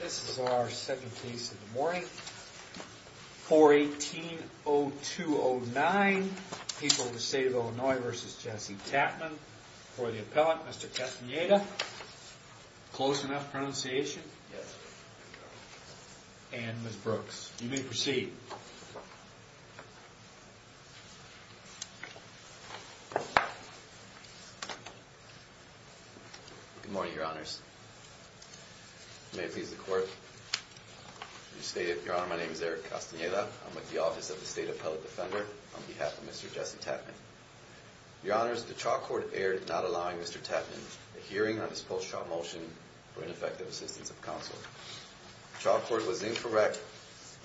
This is our second case of the morning. 418-0209. People of the State of Illinois v. Jesse Tatman. For the appellant, Mr. Castaneda. Close enough pronunciation? Yes. And Ms. Brooks. You may proceed. Good morning, Your Honors. May it please the Court. Your Honor, my name is Eric Castaneda. I'm with the Office of the State Appellate Defender on behalf of Mr. Jesse Tatman. Your Honors, the trial court erred not allowing Mr. Tatman a hearing on his post-trial motion for ineffective assistance of counsel. The trial court was incorrect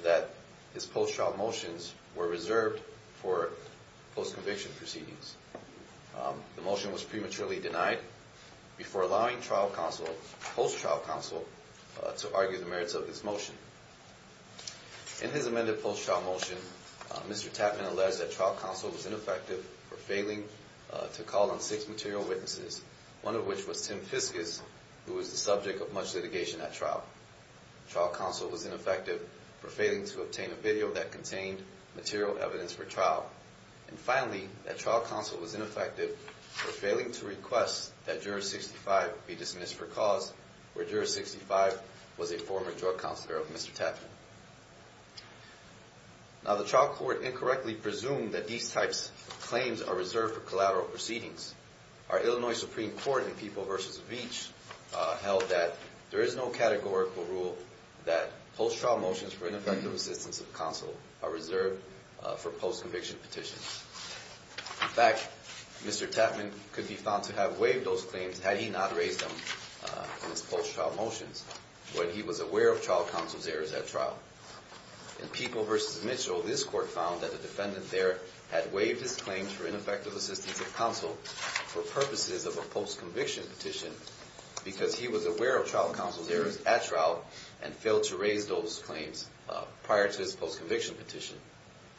that his post-trial motions were reserved for post-conviction proceedings. The motion was prematurely denied before allowing trial counsel, post-trial counsel, to argue the merits of his motion. In his amended post-trial motion, Mr. Tatman alleged that trial counsel was ineffective for failing to call on six material witnesses, one of which was Tim Fiscus, who was the subject of much litigation at trial. Trial counsel was ineffective for failing to obtain a video that contained material evidence for trial. And finally, that trial counsel was ineffective for failing to request that Juror 65 be dismissed for cause, where Juror 65 was a former drug counselor of Mr. Tatman. Now, the trial court incorrectly presumed that these types of claims are reserved for collateral proceedings. Our Illinois Supreme Court in People v. Veach held that there is no categorical rule that post-trial motions for ineffective assistance of counsel are reserved for post-conviction petitions. In fact, Mr. Tatman could be found to have waived those claims had he not raised them in his post-trial motions when he was aware of trial counsel's errors at trial. In People v. Mitchell, this court found that the defendant there had waived his claims for ineffective assistance of counsel for purposes of a post-conviction petition because he was aware of trial counsel's errors at trial and failed to raise those claims prior to his post-conviction petition.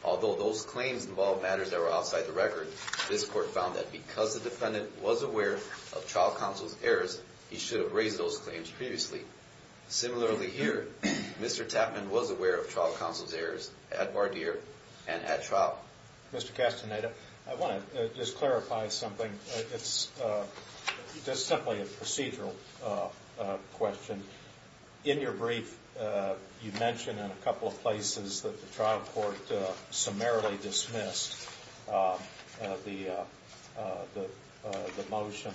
Although those claims involved matters that were outside the record, this court found that because the defendant was aware of trial counsel's errors, he should have raised those claims previously. Similarly here, Mr. Tatman was aware of trial counsel's errors at voir dire and at trial. Mr. Castaneda, I want to just clarify something. It's just simply a procedural question. In your brief, you mention in a couple of places that the trial court summarily dismissed the motion.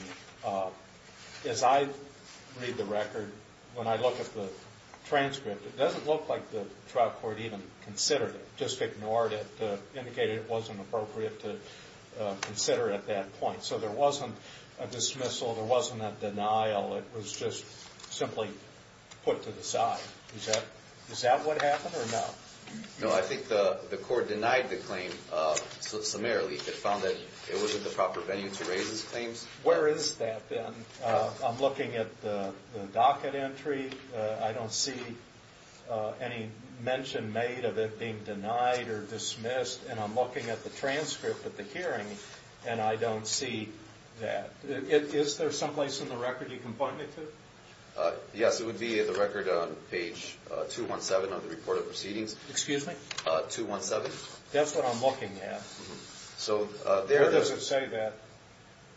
As I read the record, when I look at the transcript, it doesn't look like the trial court even considered it, just ignored it, indicated it wasn't appropriate to consider it at that point. So there wasn't a dismissal, there wasn't a denial, it was just simply put to the side. Is that what happened or no? No, I think the court denied the claim summarily. It found that it wasn't the proper venue to raise its claims. Where is that then? I'm looking at the docket entry, I don't see any mention made of it being denied or dismissed, and I'm looking at the transcript of the hearing and I don't see that. Is there some place in the record you can point me to? Yes, it would be the record on page 217 of the report of proceedings. Excuse me? 217. That's what I'm looking at. So there... Where does it say that?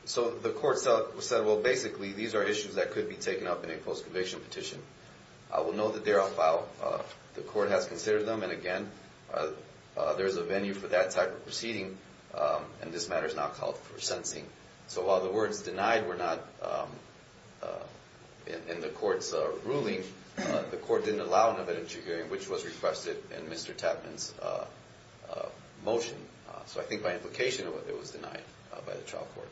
So the court said, well, basically, these are issues that could be taken up in a post-conviction petition. I will know that they are a file, the court has considered them, and again, there's a venue for that type of proceeding, and this matter is not called for sentencing. So while the words denied were not in the court's ruling, the court didn't allow an evidentiary hearing, which was requested in Mr. Tapman's motion. So I think by implication, it was denied by the trial court.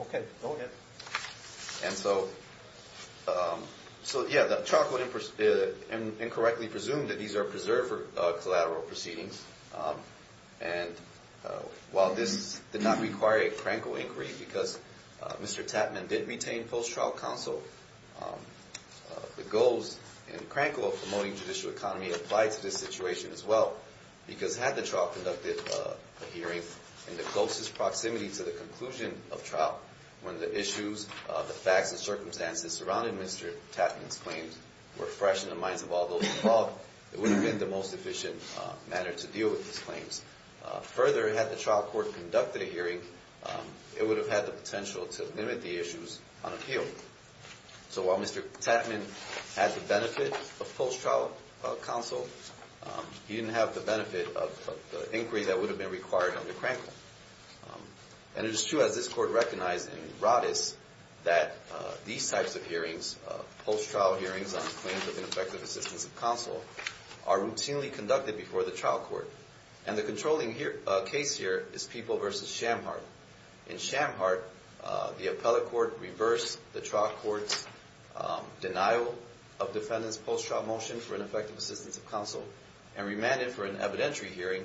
Okay, go ahead. And so, yeah, the trial court incorrectly presumed that these are preserved for collateral proceedings, and while this did not require a crankle inquiry because Mr. Tapman did retain post-trial counsel, the goals and crankle of promoting judicial economy applied to this situation as well because had the trial conducted a hearing in the closest proximity to the conclusion of trial when the issues, the facts, and circumstances surrounding Mr. Tapman's claims were fresh in the minds of all those involved, it would have been the most efficient manner to deal with these claims. Further, had the trial court conducted a hearing, it would have had the potential to limit the issues on appeal. So while Mr. Tapman had the benefit of post-trial counsel, he didn't have the benefit of the inquiry that would have been required under crankle. And it is true, as this court recognized in Rodis, that these types of hearings, post-trial hearings on claims of ineffective assistance of counsel, are routinely conducted before the trial court. And the controlling case here is People v. Shamhart. In Shamhart, the appellate court reversed the trial court's denial of defendant's post-trial motion for ineffective assistance of counsel and remanded for an evidentiary hearing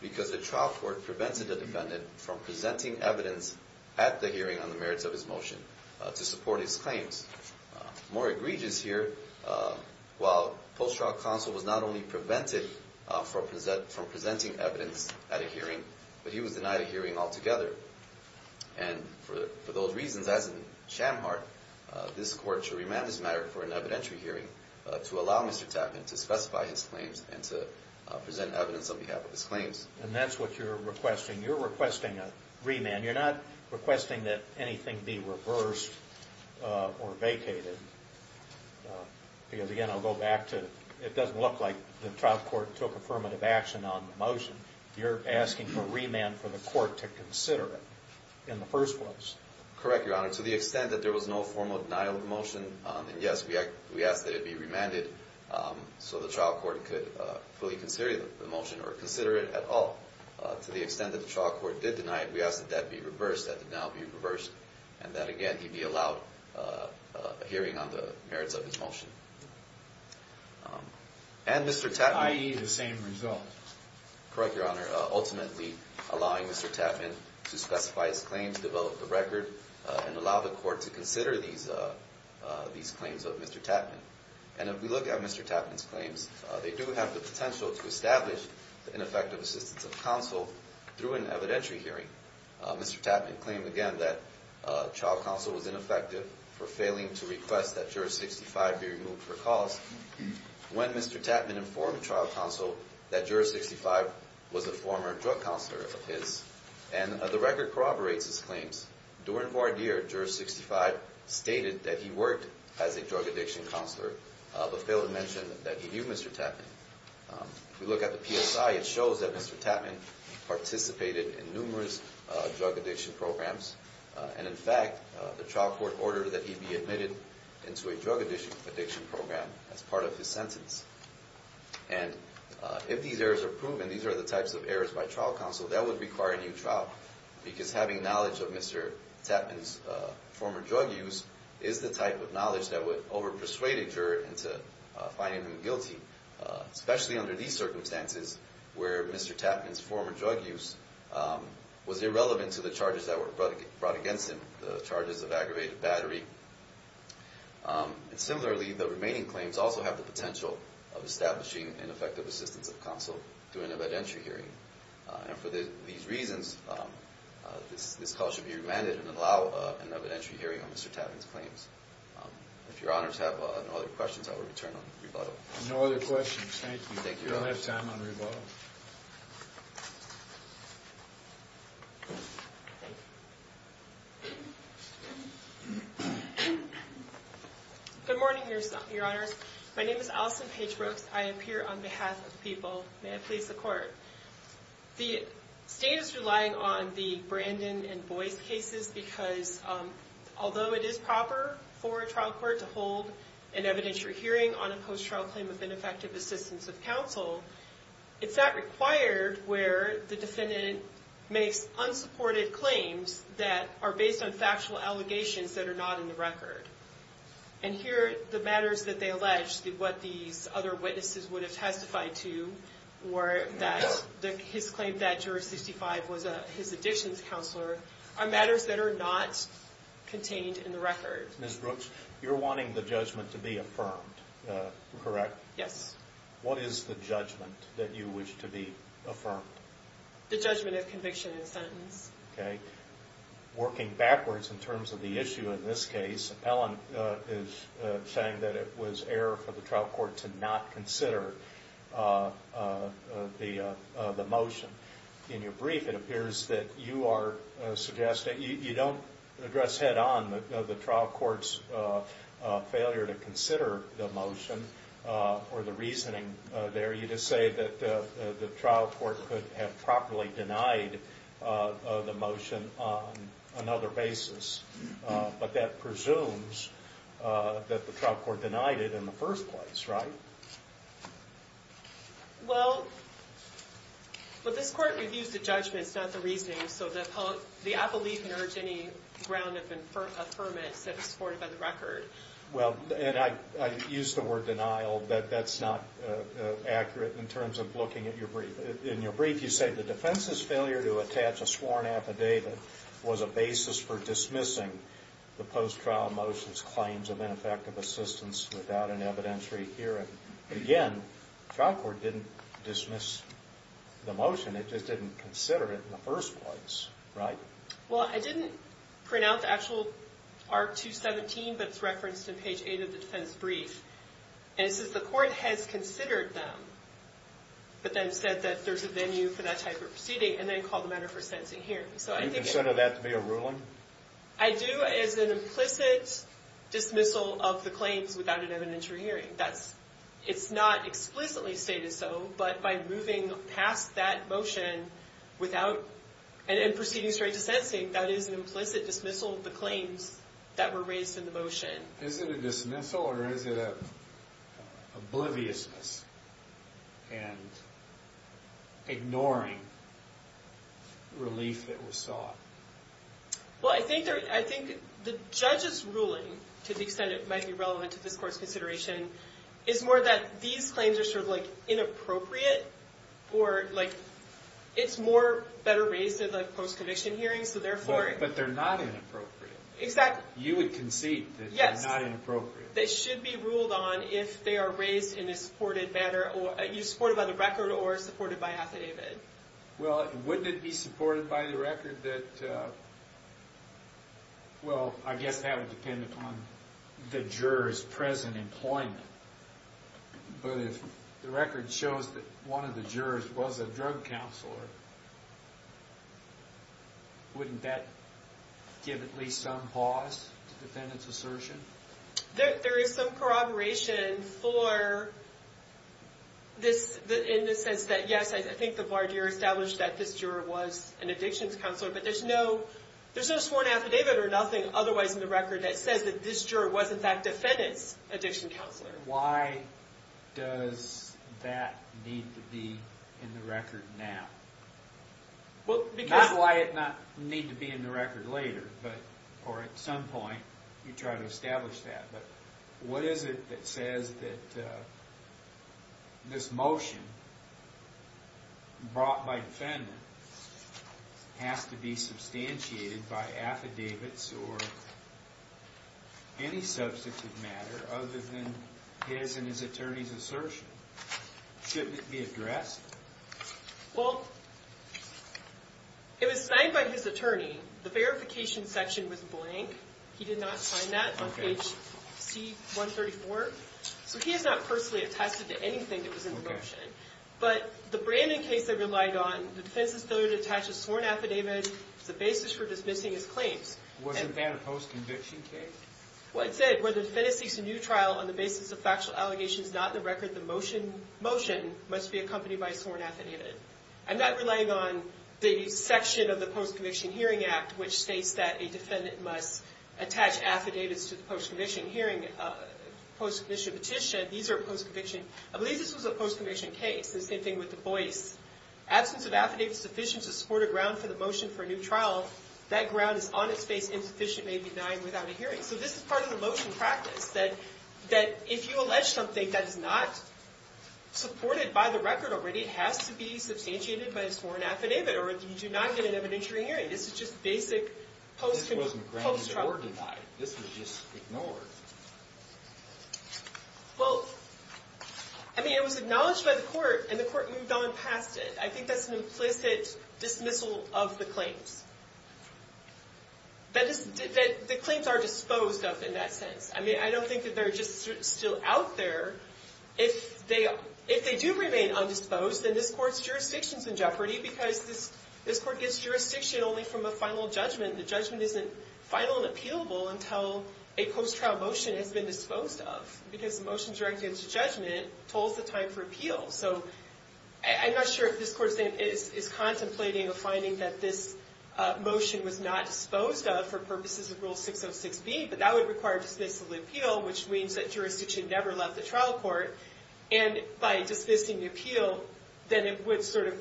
because the trial court prevented the defendant from presenting evidence at the hearing on the merits of his motion to support his claims. More egregious here, while post-trial counsel was not only prevented from presenting evidence at a hearing, but he was denied a hearing altogether. And for those reasons, as in Shamhart, this court should remand this matter for an evidentiary hearing to allow Mr. Tapman to specify his claims and to present evidence on behalf of his claims. And that's what you're requesting. You're requesting a remand. You're not requesting that anything be reversed or vacated, because again, I'll go back to, it doesn't look like the trial court took affirmative action on the motion. You're asking for remand for the court to consider it in the first place. Correct, Your Honor. To the extent that there was no formal denial of the motion, then yes, we ask that it be remanded so the trial court could fully consider the motion or consider it at all. To the extent that the trial court did deny it, we ask that that be reversed, that the denial be reversed, and that again, he be allowed a hearing on the merits of his motion. And Mr. Tapman- I.e., the same result. Correct, Your Honor. Ultimately, allowing Mr. Tapman to specify his claims, develop the record, and allow the court to consider these claims of Mr. Tapman. And if we look at Mr. Tapman's claims, they do have the potential to establish ineffective assistance of counsel through an evidentiary hearing. Mr. Tapman claimed, again, that trial counsel was ineffective for failing to request that Juror 65 be removed for cause. When Mr. Tapman informed trial counsel that Juror 65 was a former drug counselor of his, and the record corroborates his claims, during voir dire, Juror 65 stated that he worked as a drug addiction counselor, but failed to mention that he knew Mr. Tapman. If we look at the PSI, it shows that Mr. Tapman participated in numerous drug addiction programs, and in fact, the trial court ordered that he be admitted into a drug addiction program as part of his sentence. And if these errors are proven, these are the types of errors by trial counsel that would require a new trial, because having knowledge of Mr. Tapman's former drug use is the type of knowledge that would overpersuade a juror into finding him guilty, especially under these circumstances where Mr. Tapman's former drug use was irrelevant to the charges that were brought against him, the charges of aggravated battery. Similarly, the remaining claims also have the potential of establishing an effective assistance of counsel to an evidentiary hearing. And for these reasons, this call should be remanded and allow an evidentiary hearing on Mr. Tapman's claims. If your honors have no other questions, I will return on rebuttal. No other questions. Thank you. We don't have time on rebuttal. Good morning, your honors. My name is Allison Page Brooks. I am here on behalf of the people. May I please the court. The state is relying on the Brandon and Boyce cases because although it is proper for a trial court to hold an evidentiary hearing on a post-trial claim of ineffective assistance of counsel, it's not required where the defendant makes unsupported claims that are based on factual allegations that are not in the record. And here, the matters that they allege, what these other witnesses would have testified to, were that his claim that juror 65 was his addictions counselor, are matters that are not contained in the record. Ms. Brooks, you're wanting the judgment to be affirmed, correct? Yes. What is the judgment that you wish to be affirmed? The judgment of conviction and sentence. Okay. Working backwards in terms of the issue in this case, Ellen is saying that it was error for the trial court to not consider the motion. In your brief, it appears that you are suggesting, you don't address head-on the trial court's failure to consider the motion or the reasoning there. You just say that the trial court could have properly denied the motion on another basis. But that presumes that the trial court denied it in the first place, right? Well, but this court reviews the judgments, not the reasoning, so the appellee can urge any ground of affirmance that is supported by the record. Well, and I use the word denial, but that's not accurate in terms of looking at your brief. In your brief, you say the defense's failure to attach a sworn affidavit was a basis for dismissing the post-trial motion's claims of ineffective assistance without an evidentiary hearing. Again, the trial court didn't dismiss the motion. It just didn't consider it in the first place, right? Well, I didn't pronounce Actual Art 217, but it's referenced in page 8 of the defense brief. And it says the court has considered them, but then said that there's a venue for that type of proceeding, and then called the matter for sentencing here. Do you consider that to be a ruling? I do as an implicit dismissal of the claims without an evidentiary hearing. It's not explicitly stated so, but by moving past that motion and proceeding straight to sentencing, that is an implicit dismissal of the claims that were raised in the motion. Is it a dismissal or is it an obliviousness and ignoring relief that was sought? Well, I think the judge's ruling, to the extent it might be relevant to this court's consideration, is more that these claims are sort of inappropriate, or it's better raised in the post-conviction hearing, so therefore... But they're not inappropriate. Exactly. You would concede that they're not inappropriate. They should be ruled on if they are raised in a supported manner, either supported by the record or supported by affidavit. Well, wouldn't it be supported by the record that... Well, I guess that would depend upon the juror's present employment. But if the record shows that one of the jurors was a drug counselor, wouldn't that give at least some pause to defendant's assertion? There is some corroboration for this in the sense that, yes, I think the voir dire established that this juror was an addictions counselor, but there's no sworn affidavit or nothing otherwise in the record that says that this juror was, in fact, defendant's addiction counselor. But why does that need to be in the record now? Not why it not need to be in the record later, or at some point you try to establish that, but what is it that says that this motion brought by defendant has to be substantiated by affidavits or any substitute matter other than his and his attorney's assertion? Shouldn't it be addressed? Well, it was signed by his attorney. The verification section was blank. He did not sign that on page C-134. So he has not personally attested to anything that was in the motion. But the Brandon case I relied on, the defense's failure to attach a sworn affidavit is the basis for dismissing his claims. Wasn't that a post-conviction case? Well, it said, whether the defendant seeks a new trial on the basis of factual allegations not in the record, the motion must be accompanied by a sworn affidavit. I'm not relying on the section of the Post-Conviction Hearing Act, which states that a defendant must attach affidavits to the post-conviction hearing, post-conviction petition. These are post-conviction. I believe this was a post-conviction case. The same thing with Du Bois. Absence of affidavit sufficient to support a ground for the motion for a new trial, that ground is on its face insufficient, may be denying without a hearing. So this is part of the motion practice, that if you allege something that is not supported by the record already, it has to be substantiated by a sworn affidavit, or you do not get an evidentiary hearing. This is just basic post-trial. This wasn't grounded or denied. This was just ignored. Well, I mean, it was acknowledged by the court, and the court moved on past it. I think that's an implicit dismissal of the claims. The claims are disposed of in that sense. I mean, I don't think that they're just still out there. If they do remain undisposed, then this Court's jurisdiction is in jeopardy, because this Court gets jurisdiction only from a final judgment. The judgment isn't final and appealable until a post-trial motion has been disposed of, because the motion directed to judgment tolls the time for appeal. So I'm not sure if this Court is contemplating a finding that this motion was not disposed of for purposes of Rule 606b, but that would require dismissal of the appeal, which means that jurisdiction never left the trial court. And by dismissing the appeal, then the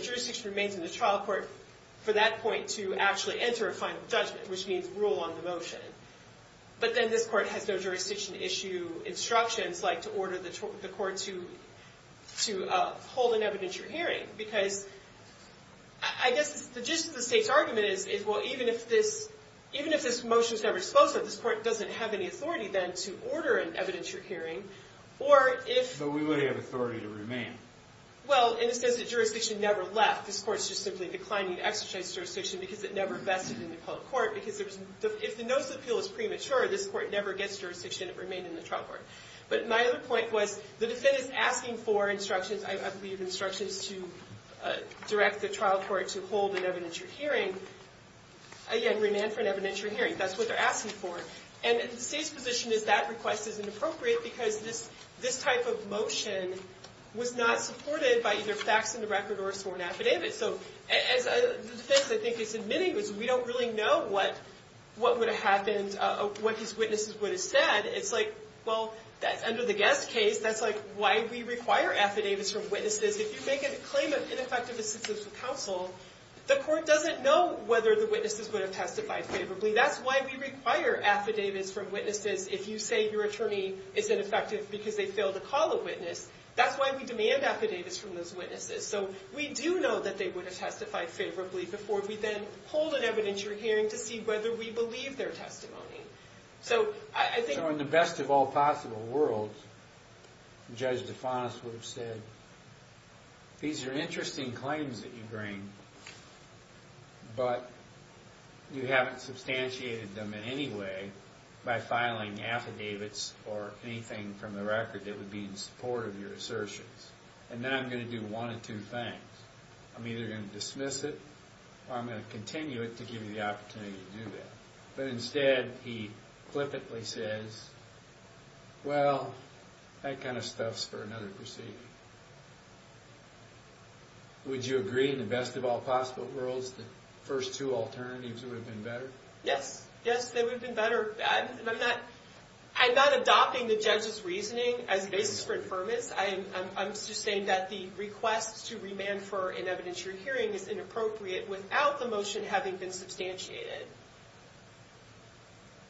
jurisdiction remains in the trial court for that point to actually enter a final judgment, which means rule on the motion. But then this Court has no jurisdiction-issue instructions like to order the Court to hold an evidentiary hearing, because I guess the gist of the State's argument is, well, even if this motion's never disposed of, this Court doesn't have any authority, then, to order an evidentiary hearing. Or if... But we would have authority to remain. Well, and it says that jurisdiction never left. This Court's just simply declining to exercise jurisdiction because it never vested in the public court, because if the notice of appeal is premature, this Court never gets jurisdiction, and it remained in the trial court. But my other point was, the defendant's asking for instructions, I believe instructions, to direct the trial court to hold an evidentiary hearing. Again, remain for an evidentiary hearing. That's what they're asking for. And the State's position is that request is inappropriate, because this type of motion was not supported by either facts in the record or a sworn affidavit. So as the defense, I think, is admitting, is we don't really know what would have happened, what his witnesses would have said. It's like, well, under the Guest case, that's why we require affidavits from witnesses. If you make a claim of ineffective assistance with counsel, the Court doesn't know whether the witnesses would have testified favorably. That's why we require affidavits from witnesses. If you say your attorney is ineffective because they failed to call a witness, that's why we demand affidavits from those witnesses. So we do know that they would have testified favorably before we then hold an evidentiary hearing to see whether we believe their testimony. So in the best of all possible worlds, Judge DeFantis would have said, these are interesting claims that you bring, but you haven't substantiated them in any way by filing affidavits or anything from the record that would be in support of your assertions. And now I'm going to do one of two things. I'm either going to dismiss it, or I'm going to continue it to give you the opportunity to do that. But instead, he flippantly says, well, that kind of stuff's for another proceeding. Would you agree, in the best of all possible worlds, the first two alternatives would have been better? Yes. Yes, they would have been better. I'm not adopting the judge's reasoning as a basis for infirmis. I'm just saying that the request to remand for an evidentiary hearing is inappropriate without the motion having been substantiated.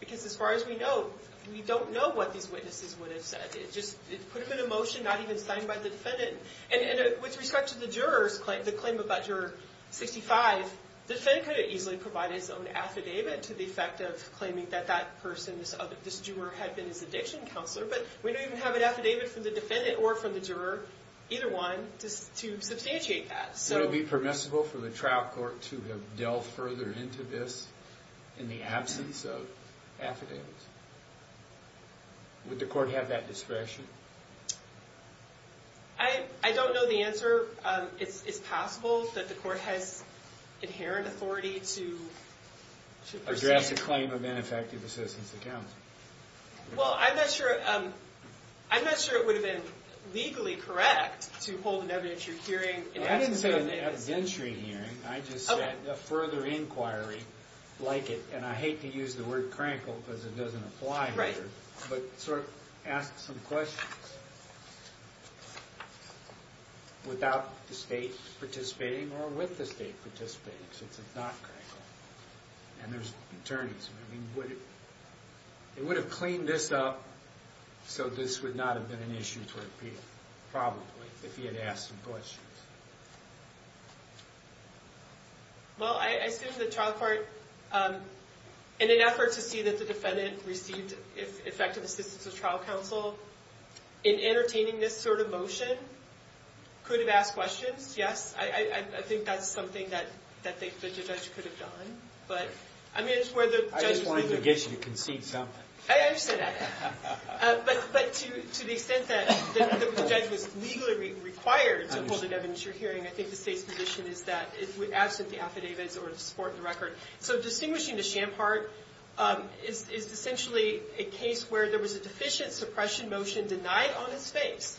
Because as far as we know, we don't know what these witnesses would have said. It just put them in a motion not even signed by the defendant. And with respect to the juror's claim, the claim about Juror 65, the defendant could have easily provided his own affidavit to the effect of claiming that that person, this juror, had been his addiction counselor. But we don't even have an affidavit from the defendant or from the juror, either one, to substantiate that. Would it be permissible for the trial court to have delved further into this in the absence of affidavits? Would the court have that discretion? I don't know the answer. It's possible that the court has inherent authority to... Address a claim of ineffective assistance to counsel. Well, I'm not sure... I'm not sure it would have been legally correct to hold an evidentiary hearing in absence of an affidavit. I didn't say an evidentiary hearing. I just said a further inquiry like it. And I hate to use the word crankle because it doesn't apply here. But sort of ask some questions. Without the state participating or with the state participating, since it's not crankle. And there's attorneys. I mean, would it... It would have cleaned this up so this would not have been an issue for appeal, probably, if he had asked some questions. Well, I assume the trial court... In an effort to see that the defendant received effective assistance of trial counsel in entertaining this sort of motion could have asked questions. Yes, I think that's something that the judge could have done. But, I mean, it's where the judge... I just wanted to get you to concede something. I understand that. But to the extent that the judge was legally required to hold an evidentiary hearing, I think the state's position is that it would absent the affidavits or support the record. So distinguishing the Schamhart is essentially a case where there was a deficient suppression motion denied on his face.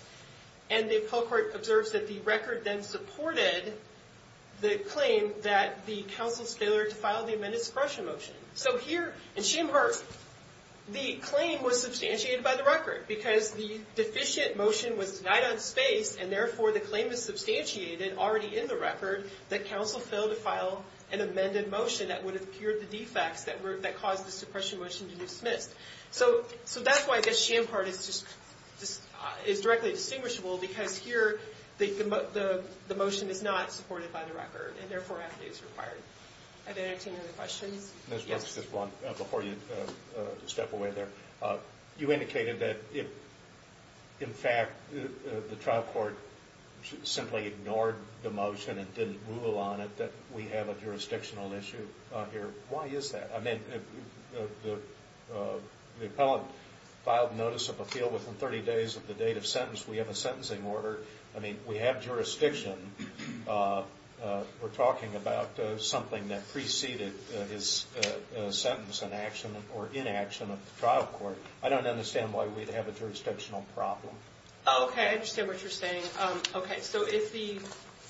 And the appeal court observes that the record then supported the claim that the counsel's failure to file the amended suppression motion. So here, in Schamhart, the claim was substantiated by the record because the deficient motion was denied on his face and therefore the claim is substantiated already in the record that counsel failed to file an amended motion that would have cured the defects that caused the suppression motion to be dismissed. So that's why I guess Schamhart is directly distinguishable because here, the motion is not supported by the record and therefore affidavits are required. Are there any other questions? Yes. Before you step away there, you indicated that in fact, the trial court simply ignored the motion and didn't rule on it that we have a jurisdictional issue here. Why is that? The appellant filed notice of appeal within 30 days of the date of sentence. We have a sentencing order. I mean, we have jurisdiction. We're talking about something that preceded his sentence in action or inaction of the trial court. I don't understand why we'd have a jurisdictional problem. I understand what you're saying. If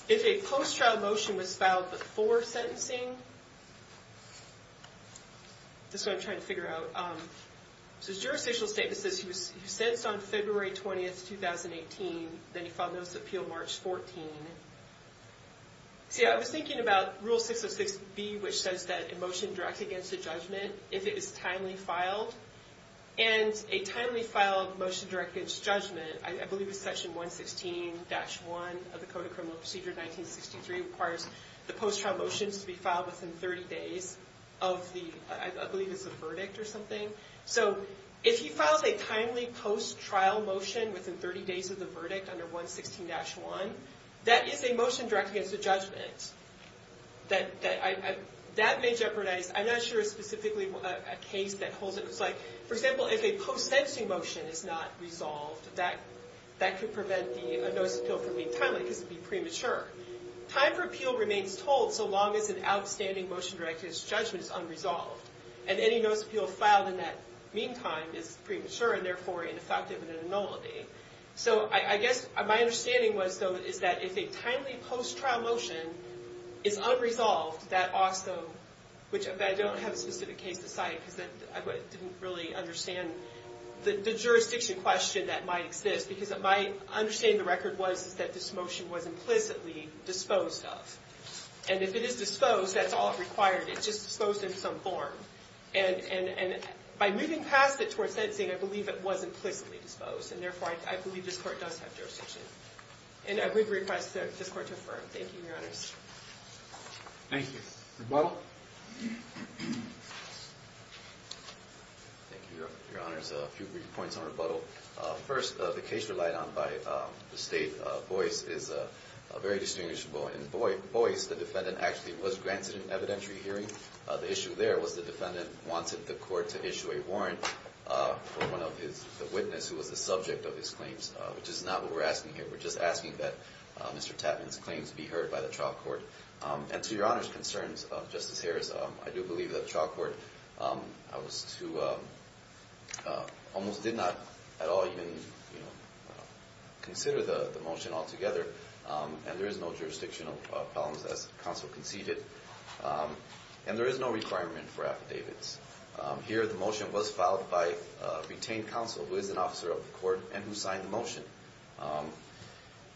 a post-trial motion was filed before sentencing, this is what I'm trying to figure out. There's a jurisdictional statement that says he was sentenced on February 20, 2018, then he filed notice of appeal March 14. I was thinking about Rule 606B, which says that a motion directed against a judgment, if it is timely filed, and a timely filed motion directed against judgment, I believe it's section 116-1 of the Code of Criminal Procedure of 1963 requires the post-trial motions to be filed within 30 days of the, I believe it's the verdict or something. So, if he files a timely post-trial motion within 30 days of the verdict under 116-1, that is a motion directed against a judgment. That may jeopardize, I'm not sure specifically a case that holds it. For example, if a post-sensing motion is not resolved, that could prevent the notice of appeal from being timely because it would be premature. Time for appeal remains told so long as an outstanding motion directed against judgment is unresolved. Any notice of appeal filed in that meantime is premature and therefore ineffective and a nonality. My understanding is that if a timely post-trial motion is unresolved, that also which I don't have a specific case to cite because I didn't really understand the jurisdiction question that might exist because my understanding of the record was that this motion was implicitly disposed of. And if it is disposed, that's all required. It's just disposed in some form. And by moving past it towards sentencing, I believe it was implicitly disposed and therefore I believe this court does have this court to affirm. Thank you, Your Honors. Rebuttal? Thank you, Your Honors. A few brief points on rebuttal. First, the case relied on by the state voice is very distinguishable and in voice, the defendant actually was granted an evidentiary hearing. The issue there was the defendant wanted the court to issue a warrant for one of the witnesses who was the subject of his claims, which is not what we're asking here. We're just asking that Mr. Tapman's claims be heard by the trial court. And to Your Honor's concerns, Justice Harris, I do believe that the trial court almost did not at all even consider the motion altogether. And there is no jurisdictional problems as counsel conceded. And there is no requirement for affidavits. Here, the motion was filed by retained counsel who is an officer of trial motion.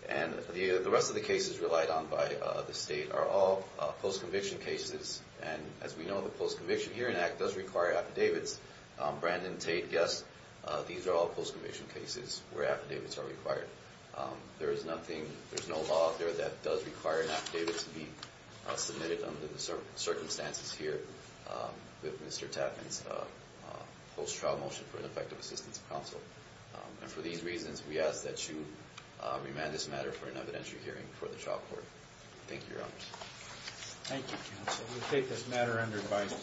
And the rest of the cases relied on by the state are all post-conviction cases. And as we know, the Post-Conviction Hearing Act does require affidavits. Brandon, Tate, Guest, these are all post-conviction cases where affidavits are required. There is nothing, there's no law out there that does require an affidavit to be submitted under the circumstances here with Mr. Tapman's post-trial motion for ineffective assistance of counsel. And for these reasons, we ask that you remand this matter for an evidentiary hearing for the trial court. Thank you, Your Honor. Thank you, counsel. We take this matter under advice.